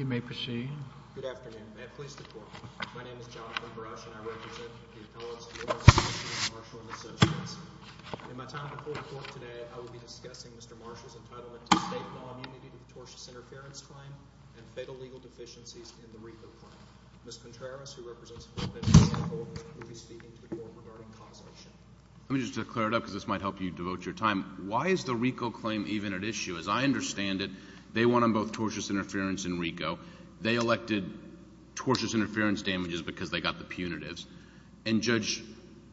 You may proceed. Good afternoon. May I please the Court? My name is Jonathan Brush, and I represent the appellants, the lawyers, the commissioners, the marshals, and associates. In my time before the Court today, I will be discussing Mr. Marshall's entitlement to state law immunity to the tortious interference claim and fatal legal deficiencies in the RICO claim. Ms. Contreras, who represents the board members and the court, will be speaking to the Court regarding cause of action. Let me just clear it up, because this might help you devote your time. Why is the RICO claim even at issue? As I understand it, they won on both tortious interference and RICO. They elected tortious interference damages because they got the punitives. And Judge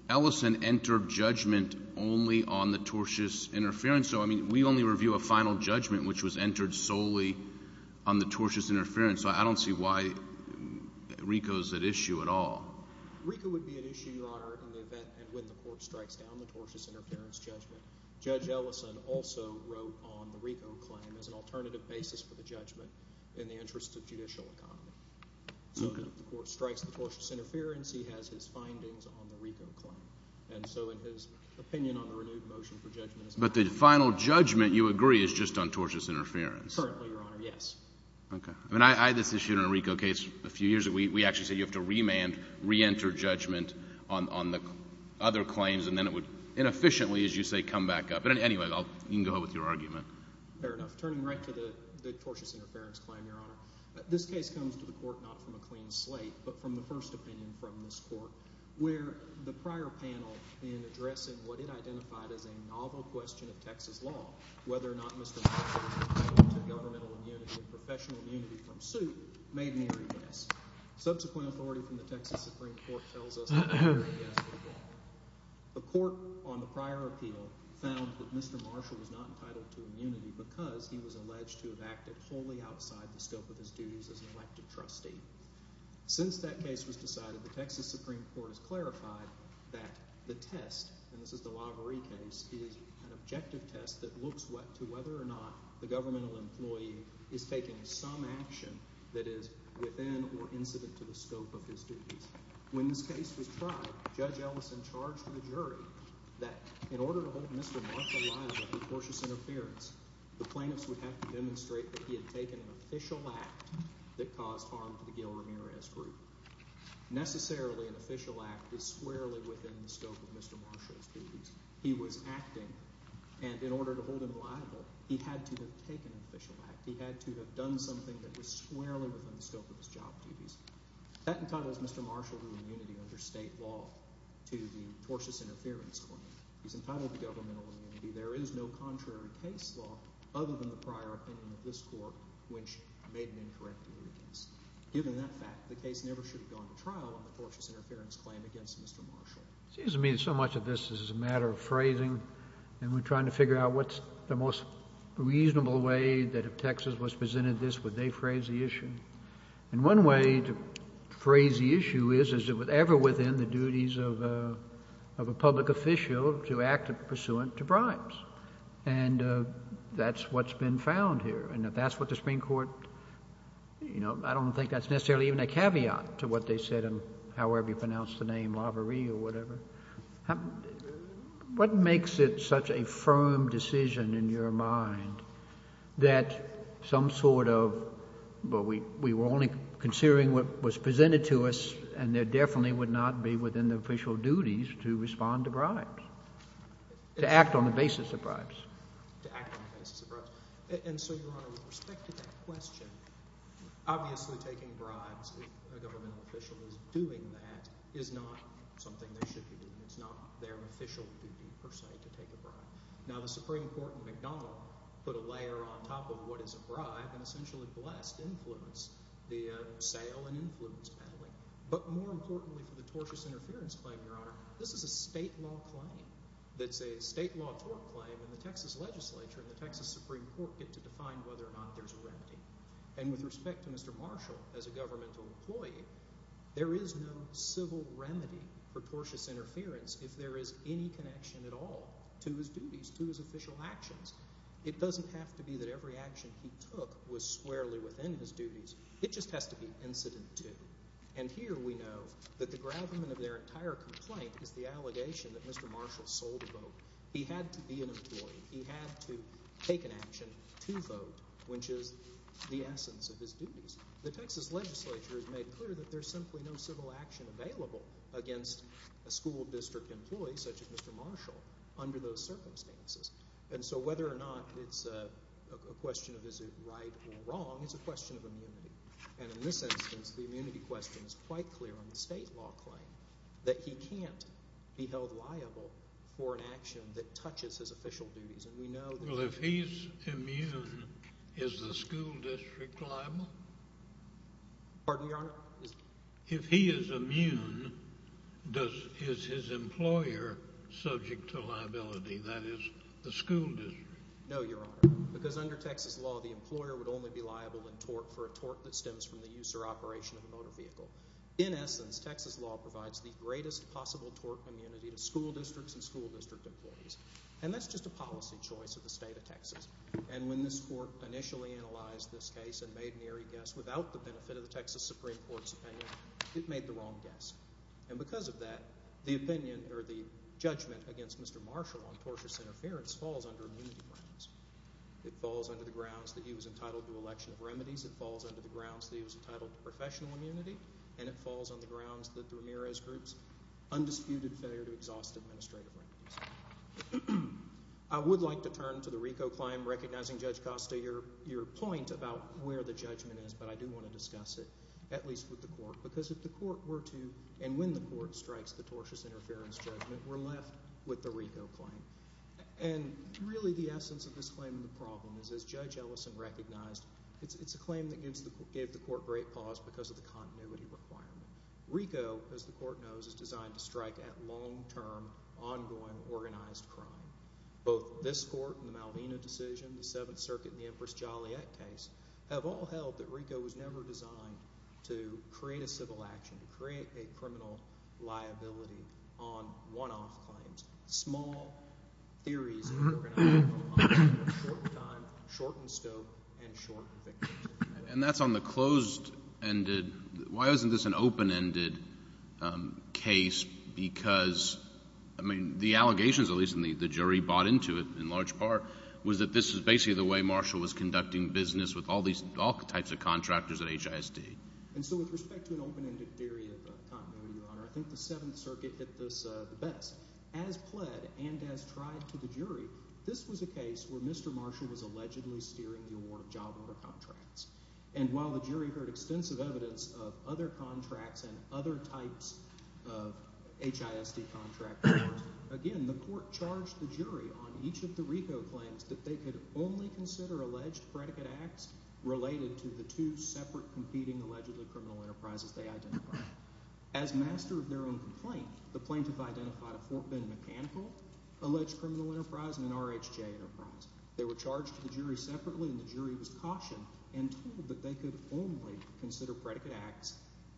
Ellison entered judgment only on the tortious interference. So, I mean, we only review a final judgment, which was entered solely on the tortious interference. So I don't see why RICO is at issue at all. RICO would be at issue, Your Honor, in the event and when the Court strikes down the tortious interference judgment. Judge Ellison also wrote on the RICO claim as an alternative basis for the judgment in the interest of judicial economy. So if the Court strikes the tortious interference, he has his findings on the RICO claim. And so in his opinion on the renewed motion for judgment is not at issue. But the final judgment, you agree, is just on tortious interference? Currently, Your Honor, yes. Okay. I mean, I had this issue in a RICO case a few years ago. We actually said you have to remand, reenter judgment on the other claims. And then it would inefficiently, as you say, come back up. But anyway, you can go ahead with your argument. Fair enough. Turning right to the tortious interference claim, Your Honor, this case comes to the Court not from a clean slate, but from the first opinion from this Court where the prior panel in addressing what it identified as a novel question of Texas law, whether or not Mr. Marshall was entitled to governmental immunity and professional immunity from suit, made an eerie guess. Subsequent authority from the Texas Supreme Court tells us it made an eerie guess. The Court on the prior appeal found that Mr. Marshall was not entitled to immunity because he was alleged to have acted wholly outside the scope of his duties as an elected trustee. Since that case was decided, the Texas Supreme Court has clarified that the test, and this is the Lavery case, is an objective test that looks to whether or not the governmental employee is taking some action that is within or incident to the scope of his duties. When this case was tried, Judge Ellison charged the jury that in order to hold Mr. Marshall liable for tortious interference, the plaintiffs would have to demonstrate that he had taken an official act that caused harm to the Gil Ramirez Group. Necessarily, an official act is squarely within the scope of Mr. Marshall's duties. He was acting, and in order to hold him liable, he had to have taken an official act. He had to have done something that was squarely within the scope of his job duties. That entitles Mr. Marshall to immunity under state law to the tortious interference claim. He's entitled to governmental immunity. There is no contrary case law other than the prior opinion of this Court, which made an incorrect ruling against him. Given that fact, the case never should have gone to trial on the tortious interference claim against Mr. Marshall. It seems to me that so much of this is a matter of phrasing, and we're trying to figure out what's the most reasonable way that if Texas was presented this, would they phrase the issue. And one way to phrase the issue is, is it ever within the duties of a public official to act pursuant to bribes. And that's what's been found here. And if that's what the Supreme Court, you know, I don't think that's necessarily even a caveat to what they said, however you pronounce the name, Laverie or whatever. What makes it such a firm decision in your mind that some sort of, well, we were only considering what was presented to us, and there definitely would not be within the official duties to respond to bribes, to act on the basis of bribes. To act on the basis of bribes. And so, Your Honor, with respect to that question, obviously taking bribes, if a governmental official is doing that, is not something they should be doing. It's not their official duty per se to take a bribe. Now the Supreme Court in McDonald put a layer on top of what is a bribe and essentially blessed influence via sale and influence peddling. But more importantly for the tortious interference claim, Your Honor, this is a state law claim. It's a state law tort claim, and the Texas legislature and the Texas Supreme Court get to define whether or not there's a remedy. And with respect to Mr. Marshall as a governmental employee, there is no civil remedy for tortious interference if there is any connection at all to his duties, to his official actions. It doesn't have to be that every action he took was squarely within his duties. It just has to be incident to. And here we know that the gravamen of their entire complaint is the allegation that Mr. Marshall sold a vote. He had to be an employee. He had to take an action to vote, which is the essence of his duties. The Texas legislature has made clear that there's simply no civil action available against a school district employee such as Mr. Marshall under those circumstances. And so whether or not it's a question of is it right or wrong, it's a question of immunity. And in this instance, the immunity question is quite clear on the state law claim that he can't be held liable for an action that touches his official duties. And we know that – Well, if he's immune, is the school district liable? Pardon me, Your Honor? If he is immune, does – is his employer subject to liability, that is, the school district? No, Your Honor, because under Texas law, the employer would only be liable in tort for a tort that stems from the use or operation of a motor vehicle. In essence, Texas law provides the greatest possible tort immunity to school districts and school district employees. And that's just a policy choice of the state of Texas. And when this court initially analyzed this case and made an eerie guess without the benefit of the Texas Supreme Court's opinion, it made the wrong guess. And because of that, the opinion or the judgment against Mr. Marshall on tortious interference falls under immunity grounds. It falls under the grounds that he was entitled to election of remedies. It falls under the grounds that he was entitled to professional immunity. And it falls under the grounds that the Ramirez group's undisputed failure to exhaust administrative remedies. I would like to turn to the RICO claim, recognizing, Judge Costa, your point about where the judgment is. But I do want to discuss it, at least with the court, because if the court were to, and when the court strikes the tortious interference judgment, we're left with the RICO claim. And really the essence of this claim and the problem is, as Judge Ellison recognized, it's a claim that gave the court great pause because of the continuity requirement. RICO, as the court knows, is designed to strike at long-term, ongoing, organized crime. Both this court and the Malvina decision, the Seventh Circuit and the Empress Joliet case, have all held that RICO was never designed to create a civil action, to create a criminal liability on one-off claims. Small theories of organized crime, short time, shortened scope, and short victims. And that's on the closed-ended – why isn't this an open-ended case? Because, I mean, the allegations, at least the jury bought into it in large part, was that this is basically the way Marshall was conducting business with all types of contractors at HISD. And so with respect to an open-ended theory of continuity, Your Honor, I think the Seventh Circuit did this the best. As pled and as tried to the jury, this was a case where Mr. Marshall was allegedly steering the award of job-owner contracts. And while the jury heard extensive evidence of other contracts and other types of HISD contract powers, again, the court charged the jury on each of the RICO claims that they could only consider alleged predicate acts related to the two separate competing allegedly criminal enterprises they identified. As master of their own complaint, the plaintiff identified a Fort Bend mechanical alleged criminal enterprise and an RHJ enterprise. They were charged to the jury separately, and the jury was cautioned and told that they could only consider predicate acts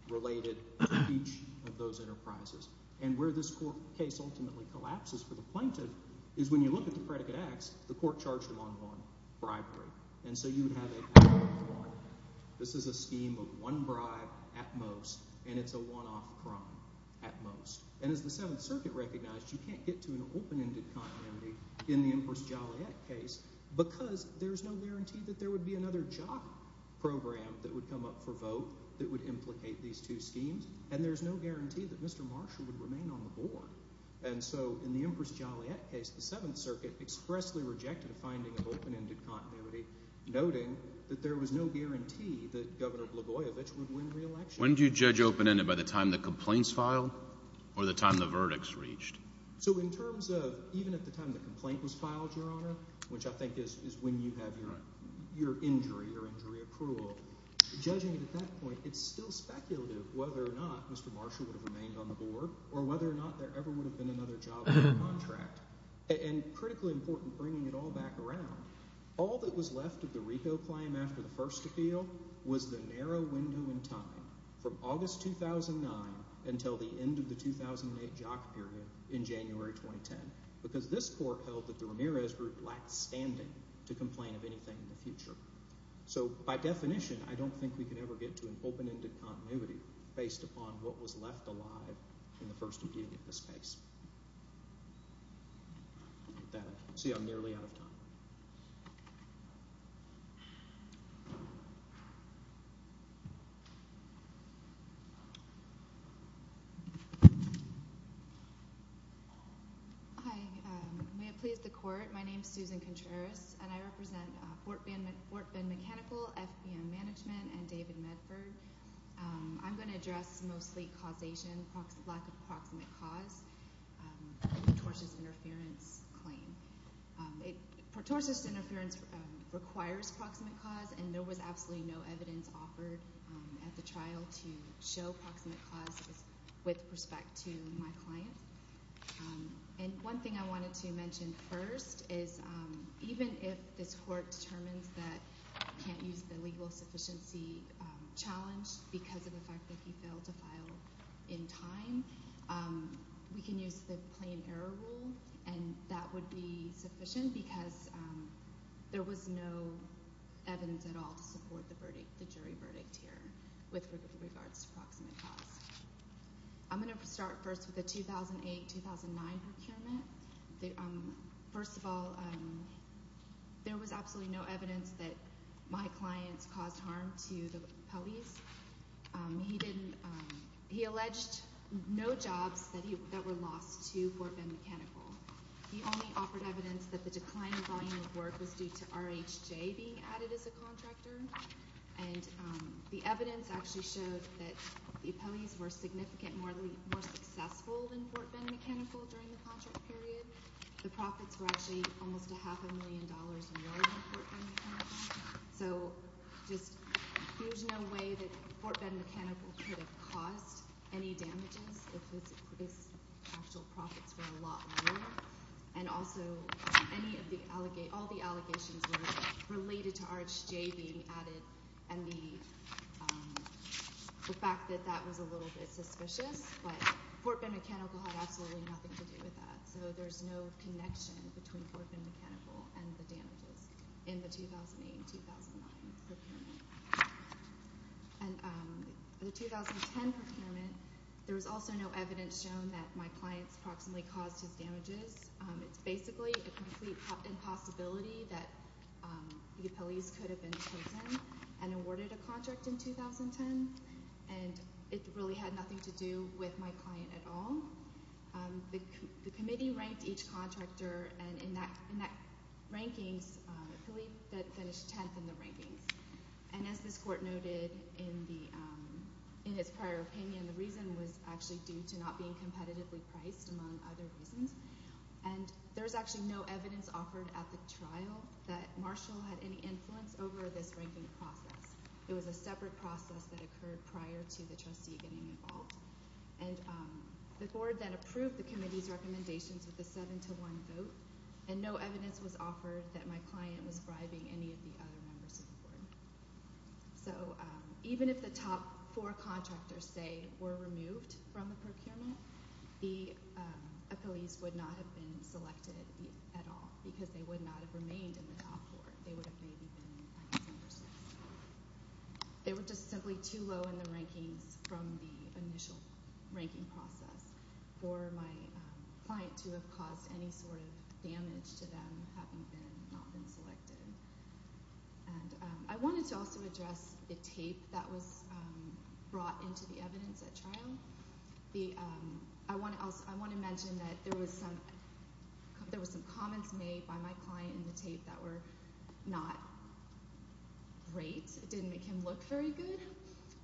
related to each of those enterprises. And where this court case ultimately collapses for the plaintiff is when you look at the predicate acts, the court charged them on one bribery. And so you would have a one-off bribery. This is a scheme of one bribe at most, and it's a one-off crime at most. And as the Seventh Circuit recognized, you can't get to an open-ended continuity in the Empress Joliet case because there's no guarantee that there would be another job program that would come up for vote that would implicate these two schemes. And there's no guarantee that Mr. Marshall would remain on the board. And so in the Empress Joliet case, the Seventh Circuit expressly rejected a finding of open-ended continuity, noting that there was no guarantee that Governor Blagojevich would win re-election. When do you judge open-ended? By the time the complaint's filed or the time the verdict's reached? So in terms of even at the time the complaint was filed, Your Honor, which I think is when you have your injury or injury accrual, judging it at that point, it's still speculative whether or not Mr. Marshall would have remained on the board or whether or not there ever would have been another job contract. And critically important, bringing it all back around, all that was left of the Repo claim after the first appeal was the narrow window in time from August 2009 until the end of the 2008 job period in January 2010 because this court held that the Ramirez group lacked standing to complain of anything in the future. So by definition, I don't think we could ever get to an open-ended continuity based upon what was left alive in the first appeal in this case. With that, I see I'm nearly out of time. Hi. May it please the court, my name is Susan Contreras and I represent Fort Bend Mechanical, FBM Management, and David Medford. I'm going to address mostly causation, lack of proximate cause in the tortious interference claim. Tortious interference requires proximate cause and there was absolutely no evidence offered at the trial to show proximate cause with respect to my client. And one thing I wanted to mention first is even if this court determines that you can't use the legal sufficiency challenge because of the fact that he failed to file in time, we can use the plain error rule and that would be sufficient because there was no evidence at all to support the jury verdict here with regards to proximate cause. I'm going to start first with the 2008-2009 procurement. First of all, there was absolutely no evidence that my clients caused harm to the Pelleys. He alleged no jobs that were lost to Fort Bend Mechanical. He only offered evidence that the decline in volume of work was due to RHJ being added as a contractor and the evidence actually showed that the Pelleys were significantly more successful than Fort Bend Mechanical during the contract period. The profits were actually almost a half a million dollars more than Fort Bend Mechanical. So there's no way that Fort Bend Mechanical could have caused any damages if his actual profits were a lot lower. And also, all the allegations were related to RHJ being added and the fact that that was a little bit suspicious, but Fort Bend Mechanical had absolutely nothing to do with that. So there's no connection between Fort Bend Mechanical and the damages in the 2008-2009 procurement. For the 2010 procurement, there was also no evidence shown that my clients proximately caused his damages. It's basically a complete impossibility that the Pelleys could have been chosen and awarded a contract in 2010 and it really had nothing to do with my client at all. The committee ranked each contractor and in that rankings, Pelleys finished 10th in the rankings. And as this court noted in its prior opinion, the reason was actually due to not being competitively priced among other reasons. And there's actually no evidence offered at the trial that Marshall had any influence over this ranking process. It was a separate process that occurred prior to the trustee getting involved. The board then approved the committee's recommendations with a 7-1 vote and no evidence was offered that my client was bribing any of the other members of the board. So even if the top four contractors, say, were removed from the procurement, the Pelleys would not have been selected at all because they would not have remained in the top four. They would have maybe been in the top 10 or so. They were just simply too low in the rankings from the initial ranking process for my client to have caused any sort of damage to them having not been selected. I wanted to also address the tape that was brought into the evidence at trial. I want to mention that there were some comments made by my client in the tape that were not great. It didn't make him look very good,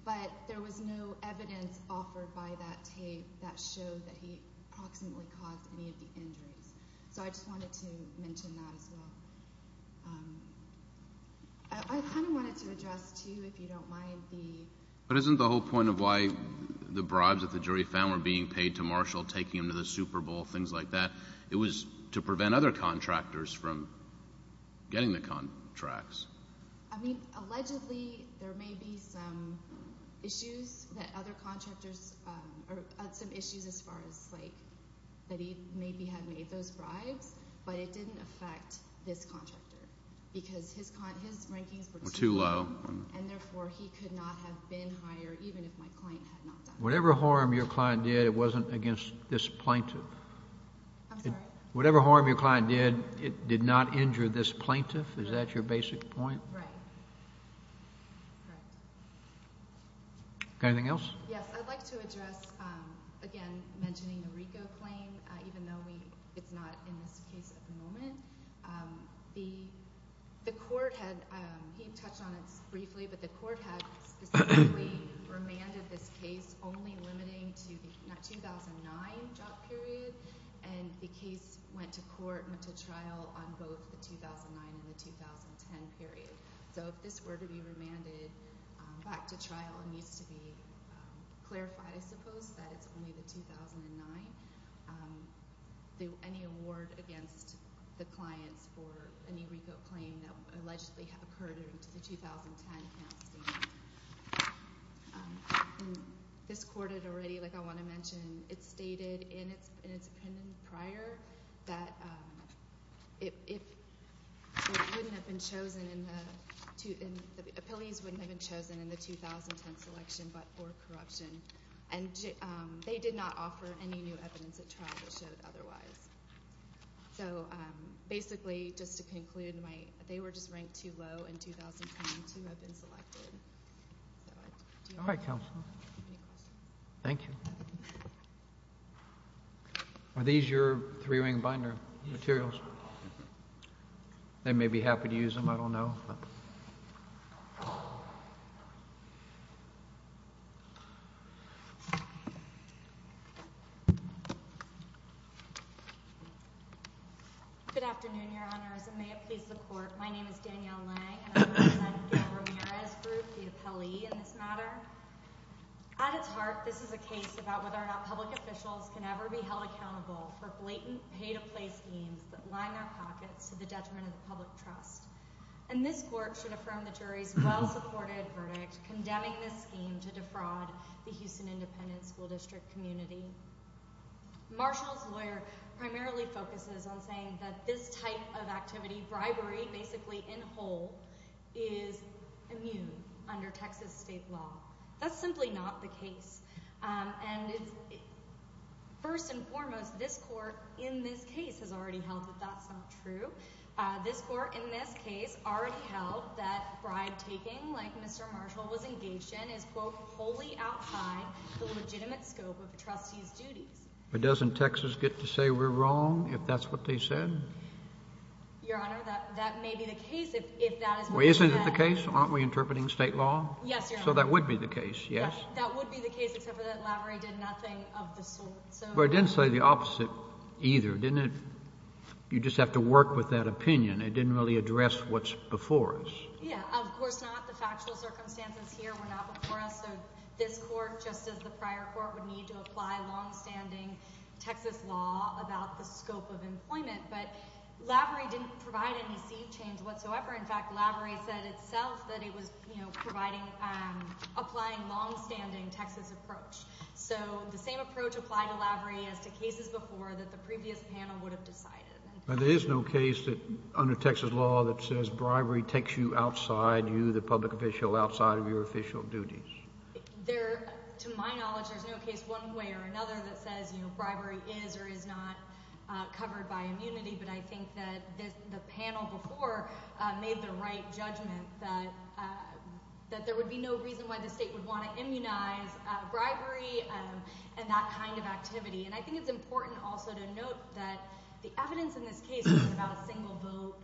but there was no evidence offered by that tape that showed that he approximately caused any of the injuries. So I just wanted to mention that as well. I kind of wanted to address, too, if you don't mind, the… But isn't the whole point of why the bribes that the jury found were being paid to Marshall, taking him to the Super Bowl, things like that, it was to prevent other contractors from getting the contracts? I mean, allegedly, there may be some issues that other contractors…or some issues as far as, like, that he maybe had made those bribes, but it didn't affect this contractor because his rankings were too low and therefore he could not have been hired even if my client had not done it. Whatever harm your client did, it wasn't against this plaintiff? I'm sorry? Whatever harm your client did, it did not injure this plaintiff? Is that your basic point? Right. Anything else? Yes, I'd like to address, again, mentioning the RICO claim, even though it's not in this case at the moment. The court had – he touched on it briefly, but the court had specifically remanded this case only limiting to the 2009 job period, and the case went to court and went to trial on both the 2009 and the 2010 period. So if this were to be remanded back to trial, it needs to be clarified, I suppose, that it's only the 2009. Any award against the clients for any RICO claim that allegedly occurred in the 2010 can't stand. This court had already, like I want to mention, it stated in its opinion prior that it wouldn't have been chosen in the – the appellees wouldn't have been chosen in the 2010 selection but for corruption. And they did not offer any new evidence at trial that showed otherwise. So basically, just to conclude, they were just ranked too low in 2010 to have been selected. All right, counsel. Any questions? Thank you. Are these your three-ring binder materials? They may be happy to use them, I don't know. Good afternoon, Your Honors, and may it please the court. My name is Danielle Lang and I represent Gil Ramirez Group, the appellee in this matter. At its heart, this is a case about whether or not public officials can ever be held accountable for blatant pay-to-play schemes that line our pockets to the detriment of the public trust. And this court should affirm the jury's well-supported verdict condemning this scheme to defraud the Houston Independent School District community. Marshall's lawyer primarily focuses on saying that this type of activity, bribery basically in whole, is immune under Texas state law. That's simply not the case. And first and foremost, this court in this case has already held that that's not true. This court in this case already held that bribe-taking like Mr. Marshall was engaged in is, quote, wholly outside the legitimate scope of a trustee's duties. But doesn't Texas get to say we're wrong if that's what they said? Your Honor, that may be the case if that is what they said. Well, isn't it the case? Aren't we interpreting state law? Yes, Your Honor. So that would be the case, yes? That would be the case except for that Lavery did nothing of the sort. But it didn't say the opposite either, didn't it? You just have to work with that opinion. It didn't really address what's before us. Yeah, of course not. The factual circumstances here were not before us. So this court, just as the prior court, would need to apply longstanding Texas law about the scope of employment. But Lavery didn't provide any seed change whatsoever. In fact, Lavery said itself that it was, you know, providing, applying longstanding Texas approach. So the same approach applied to Lavery as to cases before that the previous panel would have decided. There is no case under Texas law that says bribery takes you outside you, the public official, outside of your official duties. To my knowledge, there's no case one way or another that says bribery is or is not covered by immunity. But I think that the panel before made the right judgment that there would be no reason why the state would want to immunize bribery. And that kind of activity. And I think it's important also to note that the evidence in this case was about a single vote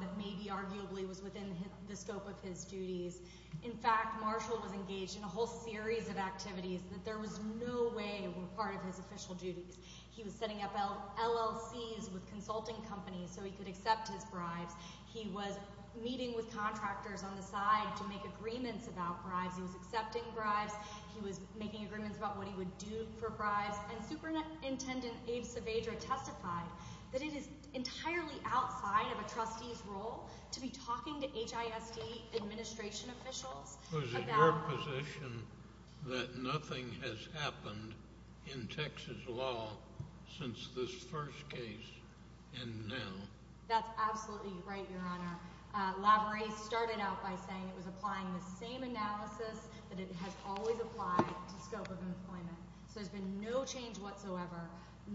that maybe arguably was within the scope of his duties. In fact, Marshall was engaged in a whole series of activities that there was no way were part of his official duties. He was setting up LLCs with consulting companies so he could accept his bribes. He was meeting with contractors on the side to make agreements about bribes. He was accepting bribes. He was making agreements about what he would do for bribes. And Superintendent Abe Saavedra testified that it is entirely outside of a trustee's role to be talking to HISD administration officials about bribes. Was it your position that nothing has happened in Texas law since this first case and now? That's absolutely right, Your Honor. Lavery started out by saying it was applying the same analysis that it has always applied to scope of employment. So there's been no change whatsoever.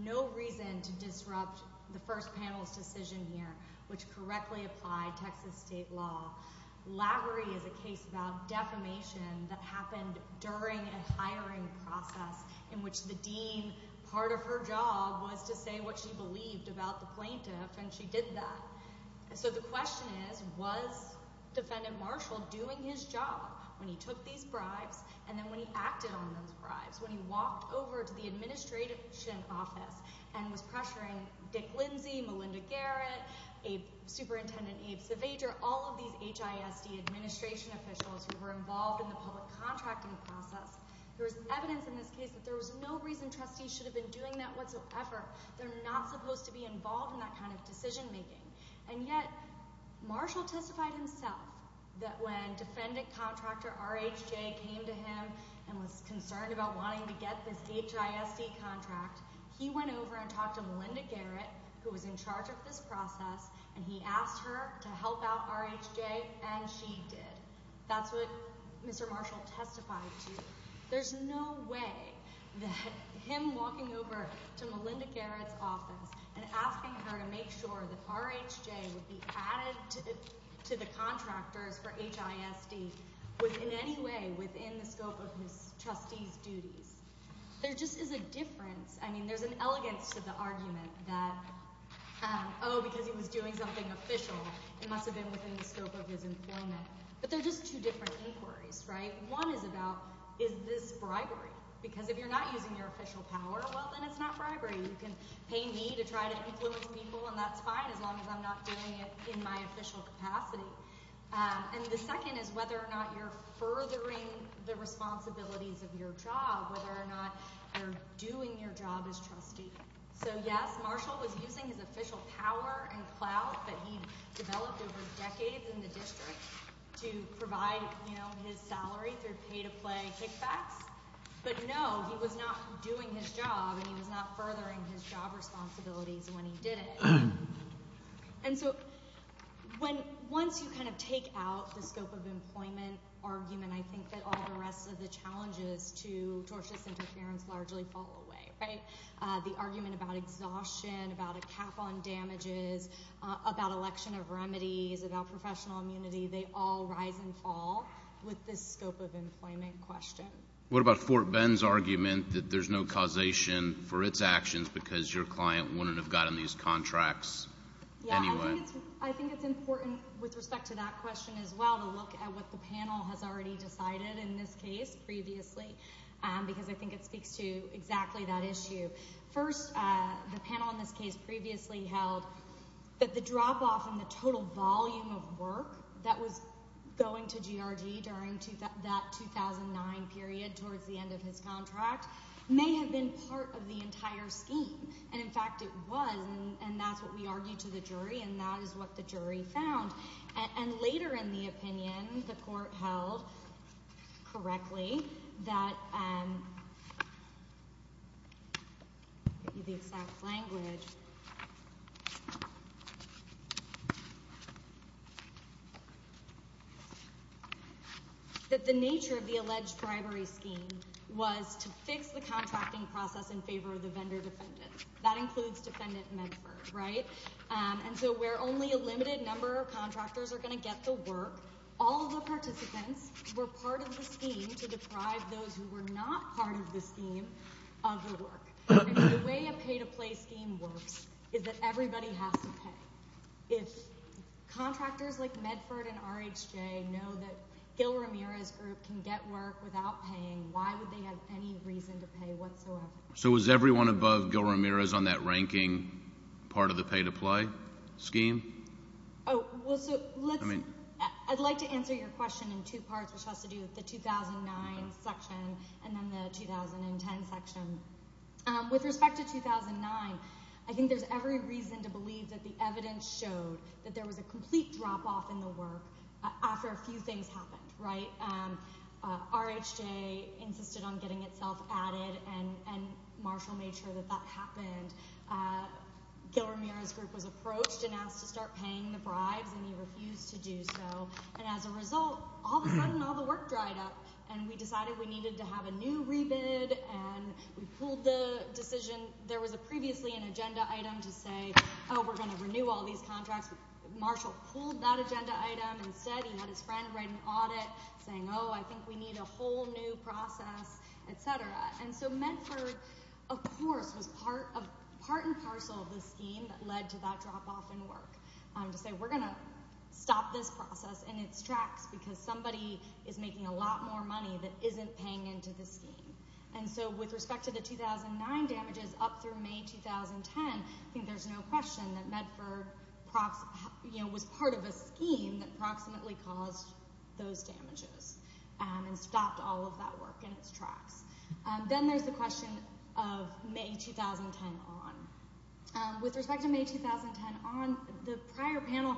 No reason to disrupt the first panel's decision here, which correctly applied Texas state law. Lavery is a case about defamation that happened during a hiring process in which the dean, part of her job was to say what she believed about the plaintiff, and she did that. So the question is, was Defendant Marshall doing his job when he took these bribes and then when he acted on those bribes, when he walked over to the administration office and was pressuring Dick Lindsey, Melinda Garrett, Superintendent Abe Saavedra, all of these HISD administration officials who were involved in the public contracting process, there was evidence in this case that there was no reason trustees should have been doing that whatsoever. They're not supposed to be involved in that kind of decision-making. And yet Marshall testified himself that when Defendant Contractor R.H.J. came to him and was concerned about wanting to get this HISD contract, he went over and talked to Melinda Garrett, who was in charge of this process, and he asked her to help out R.H.J., and she did. That's what Mr. Marshall testified to. There's no way that him walking over to Melinda Garrett's office and asking her to make sure that R.H.J. would be added to the contractors for HISD was in any way within the scope of his trustees' duties. There just is a difference. I mean, there's an elegance to the argument that, oh, because he was doing something official, it must have been within the scope of his employment. But they're just two different inquiries, right? One is about, is this bribery? Because if you're not using your official power, well, then it's not bribery. You can pay me to try to influence people, and that's fine as long as I'm not doing it in my official capacity. And the second is whether or not you're furthering the responsibilities of your job, whether or not you're doing your job as trustee. So yes, Marshall was using his official power and clout that he developed over decades in the district to provide his salary through pay-to-play kickbacks. But no, he was not doing his job, and he was not furthering his job responsibilities when he did it. And so once you kind of take out the scope of employment argument, I think that all the rest of the challenges to tortious interference largely fall away. The argument about exhaustion, about a cap on damages, about election of remedies, about professional immunity, they all rise and fall with this scope of employment question. What about Fort Bend's argument that there's no causation for its actions because your client wouldn't have gotten these contracts anyway? I think it's important with respect to that question as well to look at what the panel has already decided in this case previously because I think it speaks to exactly that issue. First, the panel in this case previously held that the drop-off in the total volume of work that was going to GRD during that 2009 period towards the end of his contract may have been part of the entire scheme. And, in fact, it was, and that's what we argued to the jury, and that is what the jury found. And later in the opinion, the court held correctly that the nature of the alleged bribery scheme was to fix the contracting process in favor of the vendor defendants. That includes Defendant Medford, right? And so where only a limited number of contractors are going to get the work, all the participants were part of the scheme to deprive those who were not part of the scheme of the work. The way a pay-to-play scheme works is that everybody has to pay. If contractors like Medford and RHJ know that Gil Ramirez's group can get work without paying, why would they have any reason to pay whatsoever? So is everyone above Gil Ramirez on that ranking part of the pay-to-play scheme? Oh, well, so let's – I'd like to answer your question in two parts, which has to do with the 2009 section and then the 2010 section. With respect to 2009, I think there's every reason to believe that the evidence showed that there was a complete drop-off in the work after a few things happened, right? RHJ insisted on getting itself added, and Marshall made sure that that happened. Gil Ramirez's group was approached and asked to start paying the bribes, and he refused to do so. And as a result, all of a sudden all the work dried up, and we decided we needed to have a new rebid, and we pulled the decision. There was previously an agenda item to say, oh, we're going to renew all these contracts. Marshall pulled that agenda item. Instead, he had his friend write an audit saying, oh, I think we need a whole new process, et cetera. And so Medford, of course, was part and parcel of the scheme that led to that drop-off in work to say we're going to stop this process in its tracks because somebody is making a lot more money that isn't paying into the scheme. And so with respect to the 2009 damages up through May 2010, I think there's no question that Medford was part of a scheme that approximately caused those damages and stopped all of that work in its tracks. Then there's the question of May 2010 on. With respect to May 2010 on, the prior panel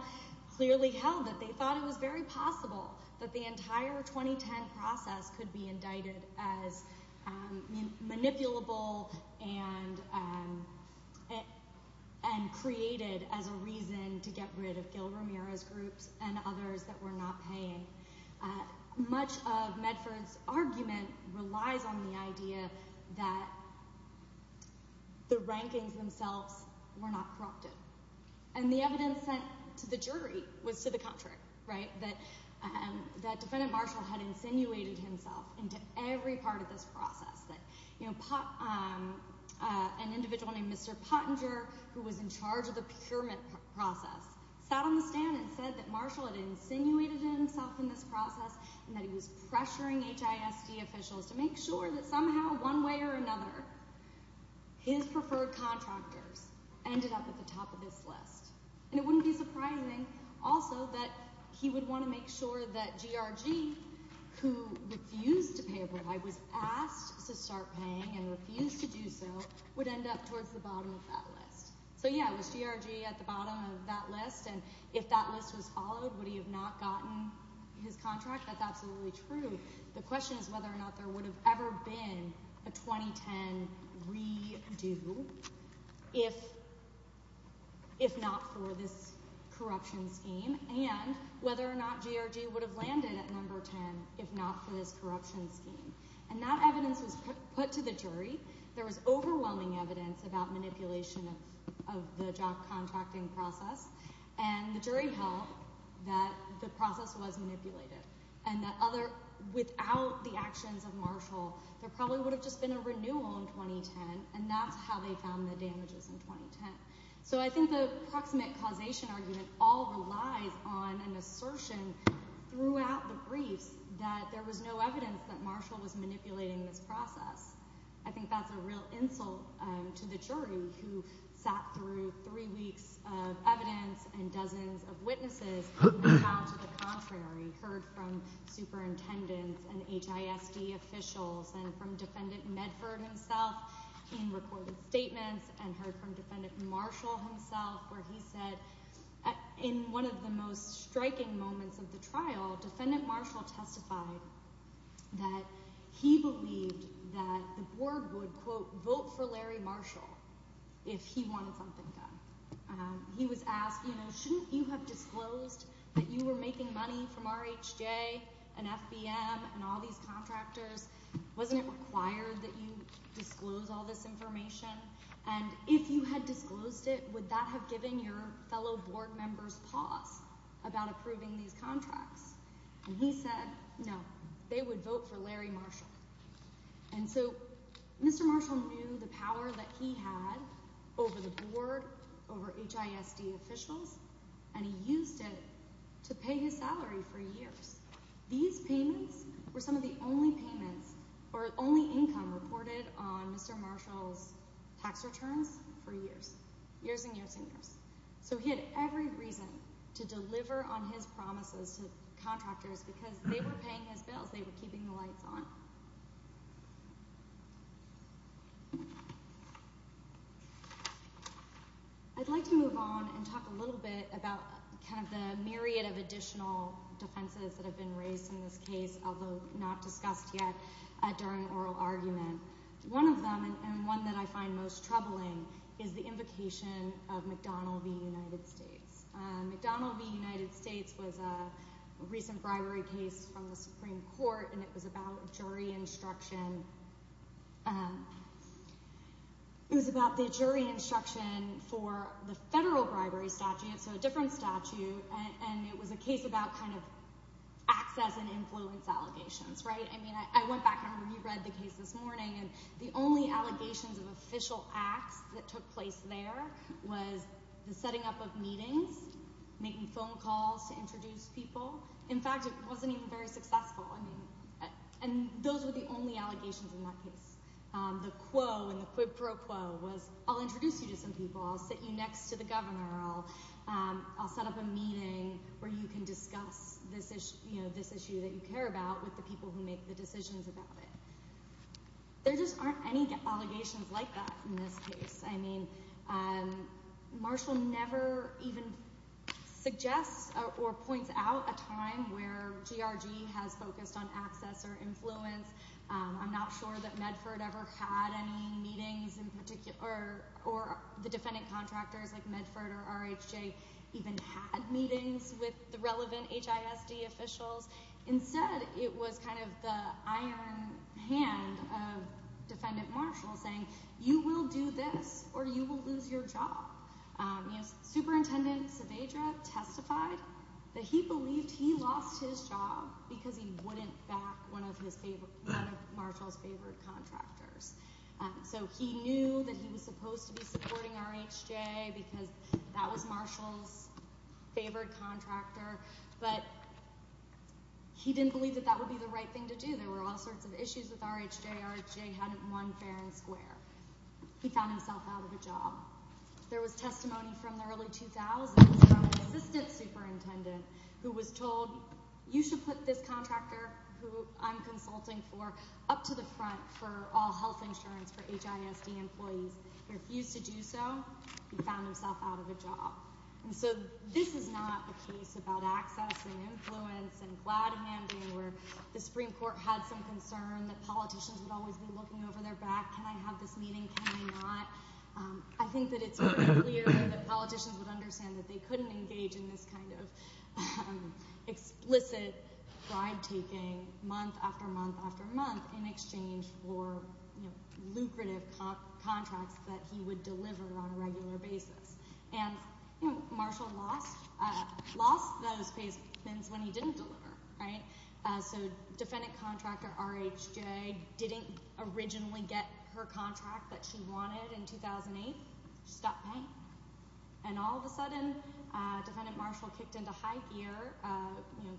clearly held that they thought it was very possible that the entire 2010 process could be indicted as manipulable and created as a reason to get rid of Gil Romero's groups and others that were not paying. Much of Medford's argument relies on the idea that the rankings themselves were not corrupted. And the evidence sent to the jury was to the contrary, right? That Defendant Marshall had insinuated himself into every part of this process. An individual named Mr. Pottinger, who was in charge of the procurement process, sat on the stand and said that Marshall had insinuated himself in this process and that he was pressuring HISD officials to make sure that somehow, one way or another, his preferred contractors ended up at the top of this list. And it wouldn't be surprising, also, that he would want to make sure that GRG, who refused to pay a bribe, was asked to start paying and refused to do so, would end up towards the bottom of that list. So yeah, was GRG at the bottom of that list? And if that list was followed, would he have not gotten his contract? That's absolutely true. The question is whether or not there would have ever been a 2010 redo if not for this corruption scheme, and whether or not GRG would have landed at number 10 if not for this corruption scheme. And that evidence was put to the jury. There was overwhelming evidence about manipulation of the job contracting process. And the jury held that the process was manipulated and that without the actions of Marshall, there probably would have just been a renewal in 2010, and that's how they found the damages in 2010. So I think the proximate causation argument all relies on an assertion throughout the briefs that there was no evidence that Marshall was manipulating this process. I think that's a real insult to the jury who sat through three weeks of evidence and dozens of witnesses who went out to the contrary, heard from superintendents and HISD officials and from Defendant Medford himself in recorded statements and heard from Defendant Marshall himself where he said, in one of the most striking moments of the trial, Defendant Marshall testified that he believed that the board would, quote, vote for Larry Marshall if he wanted something done. He was asked, you know, shouldn't you have disclosed that you were making money from RHJ and FBM and all these contractors? Wasn't it required that you disclose all this information? And if you had disclosed it, would that have given your fellow board members pause about approving these contracts? And he said, no, they would vote for Larry Marshall. And so Mr. Marshall knew the power that he had over the board, over HISD officials, and he used it to pay his salary for years. These payments were some of the only income reported on Mr. Marshall's tax returns for years. Years and years and years. So he had every reason to deliver on his promises to contractors because they were paying his bills. They were keeping the lights on. I'd like to move on and talk a little bit about kind of the myriad of additional defenses that have been raised in this case, although not discussed yet, during oral argument. One of them, and one that I find most troubling, is the invocation of McDonnell v. United States. McDonnell v. United States was a recent bribery case from the Supreme Court, and it was about jury instruction. It was about the jury instruction for the federal bribery statute, so a different statute, and it was a case about kind of access and influence allegations, right? I mean, I went back and reread the case this morning, and the only allegations of official acts that took place there was the setting up of meetings, making phone calls to introduce people. In fact, it wasn't even very successful, and those were the only allegations in that case. The quo and the quid pro quo was I'll introduce you to some people, I'll sit you next to the governor, I'll set up a meeting where you can discuss this issue that you care about with the people who make the decisions about it. There just aren't any allegations like that in this case. I mean, Marshall never even suggests or points out a time where GRG has focused on access or influence. I'm not sure that Medford ever had any meetings in particular, or the defendant contractors like Medford or RHJ even had meetings with the relevant HISD officials. Instead, it was kind of the iron hand of Defendant Marshall saying you will do this or you will lose your job. Superintendent Saavedra testified that he believed he lost his job because he wouldn't back one of Marshall's favorite contractors. So he knew that he was supposed to be supporting RHJ because that was Marshall's favorite contractor, but he didn't believe that that would be the right thing to do. There were all sorts of issues with RHJ. RHJ hadn't won fair and square. He found himself out of a job. There was testimony from the early 2000s from an assistant superintendent who was told, you should put this contractor who I'm consulting for up to the front for all health insurance for HISD employees. He refused to do so. He found himself out of a job. So this is not a case about access and influence and glad-handing where the Supreme Court had some concern that politicians would always be looking over their back. Can I have this meeting? Can I not? I think that it's very clear that politicians would understand that they couldn't engage in this kind of explicit bribe-taking month after month after month in exchange for lucrative contracts that he would deliver on a regular basis. And Marshall lost those payments when he didn't deliver. So defendant contractor RHJ didn't originally get her contract that she wanted in 2008. She stopped paying. And all of a sudden, defendant Marshall kicked into high gear,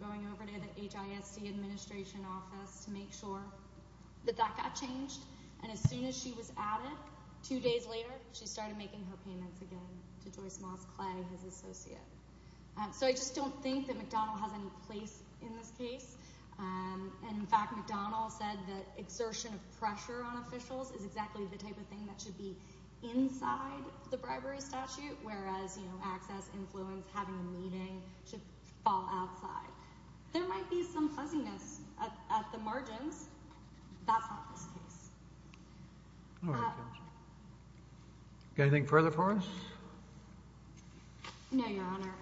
going over to the HISD administration office to make sure that that got changed. And as soon as she was added, two days later, she started making her payments again to Joyce Moss Clay, his associate. So I just don't think that McDonnell has any place in this case. And, in fact, McDonnell said that exertion of pressure on officials is exactly the type of thing that should be inside the bribery statute, whereas access, influence, having a meeting should fall outside. There might be some fuzziness at the margins. That's not this case. Anything further for us? No, Your Honor.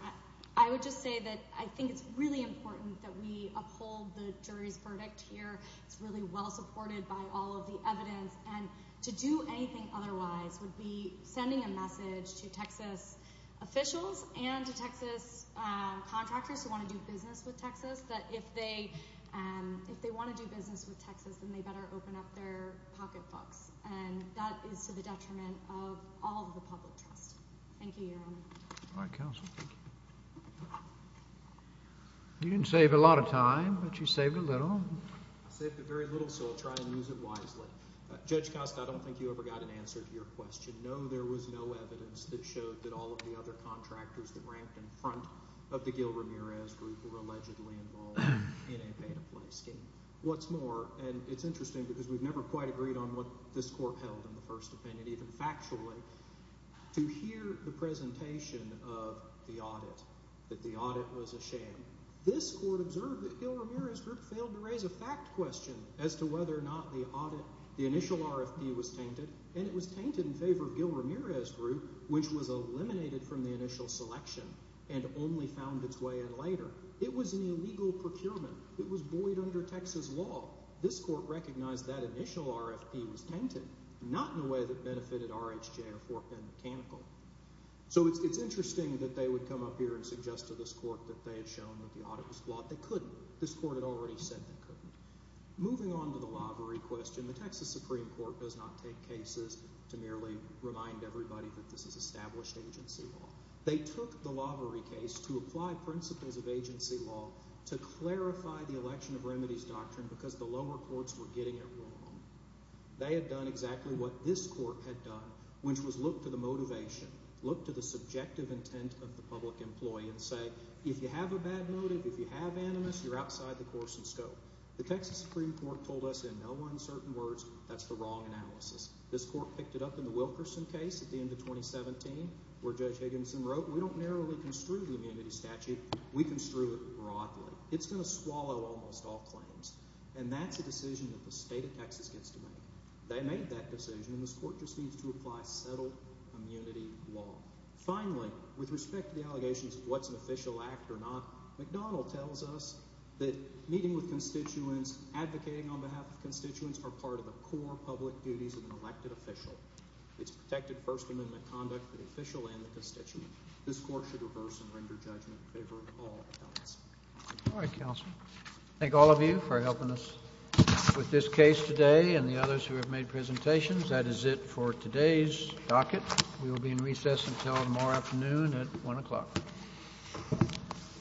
I would just say that I think it's really important that we uphold the jury's verdict here. It's really well supported by all of the evidence. And to do anything otherwise would be sending a message to Texas officials and to Texas contractors who want to do business with Texas that if they want to do business with Texas, then they better open up their pocketbooks. And that is to the detriment of all of the public trust. Thank you, Your Honor. All right, counsel. You didn't save a lot of time, but you saved a little. I saved very little, so I'll try and use it wisely. Judge Costa, I don't think you ever got an answer to your question. No, there was no evidence that showed that all of the other contractors that ranked in front of the Gil Ramirez Group were allegedly involved in a pay-to-play scheme. What's more, and it's interesting because we've never quite agreed on what this court held in the first opinion, even factually, to hear the presentation of the audit, that the audit was a sham. This court observed that Gil Ramirez Group failed to raise a fact question as to whether or not the audit, the initial RFP was tainted, and it was tainted in favor of Gil Ramirez Group, which was eliminated from the initial selection and only found its way in later. It was an illegal procurement. It was buoyed under Texas law. This court recognized that initial RFP was tainted, not in a way that benefited RHJ or 4-pen mechanical. So it's interesting that they would come up here and suggest to this court that they had shown that the audit was flawed. They couldn't. This court had already said they couldn't. Moving on to the Lavery question, the Texas Supreme Court does not take cases to merely remind everybody that this is established agency law. They took the Lavery case to apply principles of agency law to clarify the election of remedies doctrine because the lower courts were getting it wrong. They had done exactly what this court had done, which was look to the motivation, look to the subjective intent of the public employee, and say if you have a bad motive, if you have animus, you're outside the course and scope. The Texas Supreme Court told us in no uncertain words that's the wrong analysis. This court picked it up in the Wilkerson case at the end of 2017 where Judge Higginson wrote, we don't narrowly construe the immunity statute, we construe it broadly. It's going to swallow almost all claims, and that's a decision that the state of Texas gets to make. They made that decision, and this court just needs to apply settled immunity law. Finally, with respect to the allegations of what's an official act or not, McDonnell tells us that meeting with constituents, advocating on behalf of constituents are part of the core public duties of an elected official. It's protected First Amendment conduct for the official and the constituent. This court should reverse and render judgment in favor of all elements. All right, counsel. Thank all of you for helping us with this case today and the others who have made presentations. That is it for today's docket. We will be in recess until tomorrow afternoon at 1 o'clock.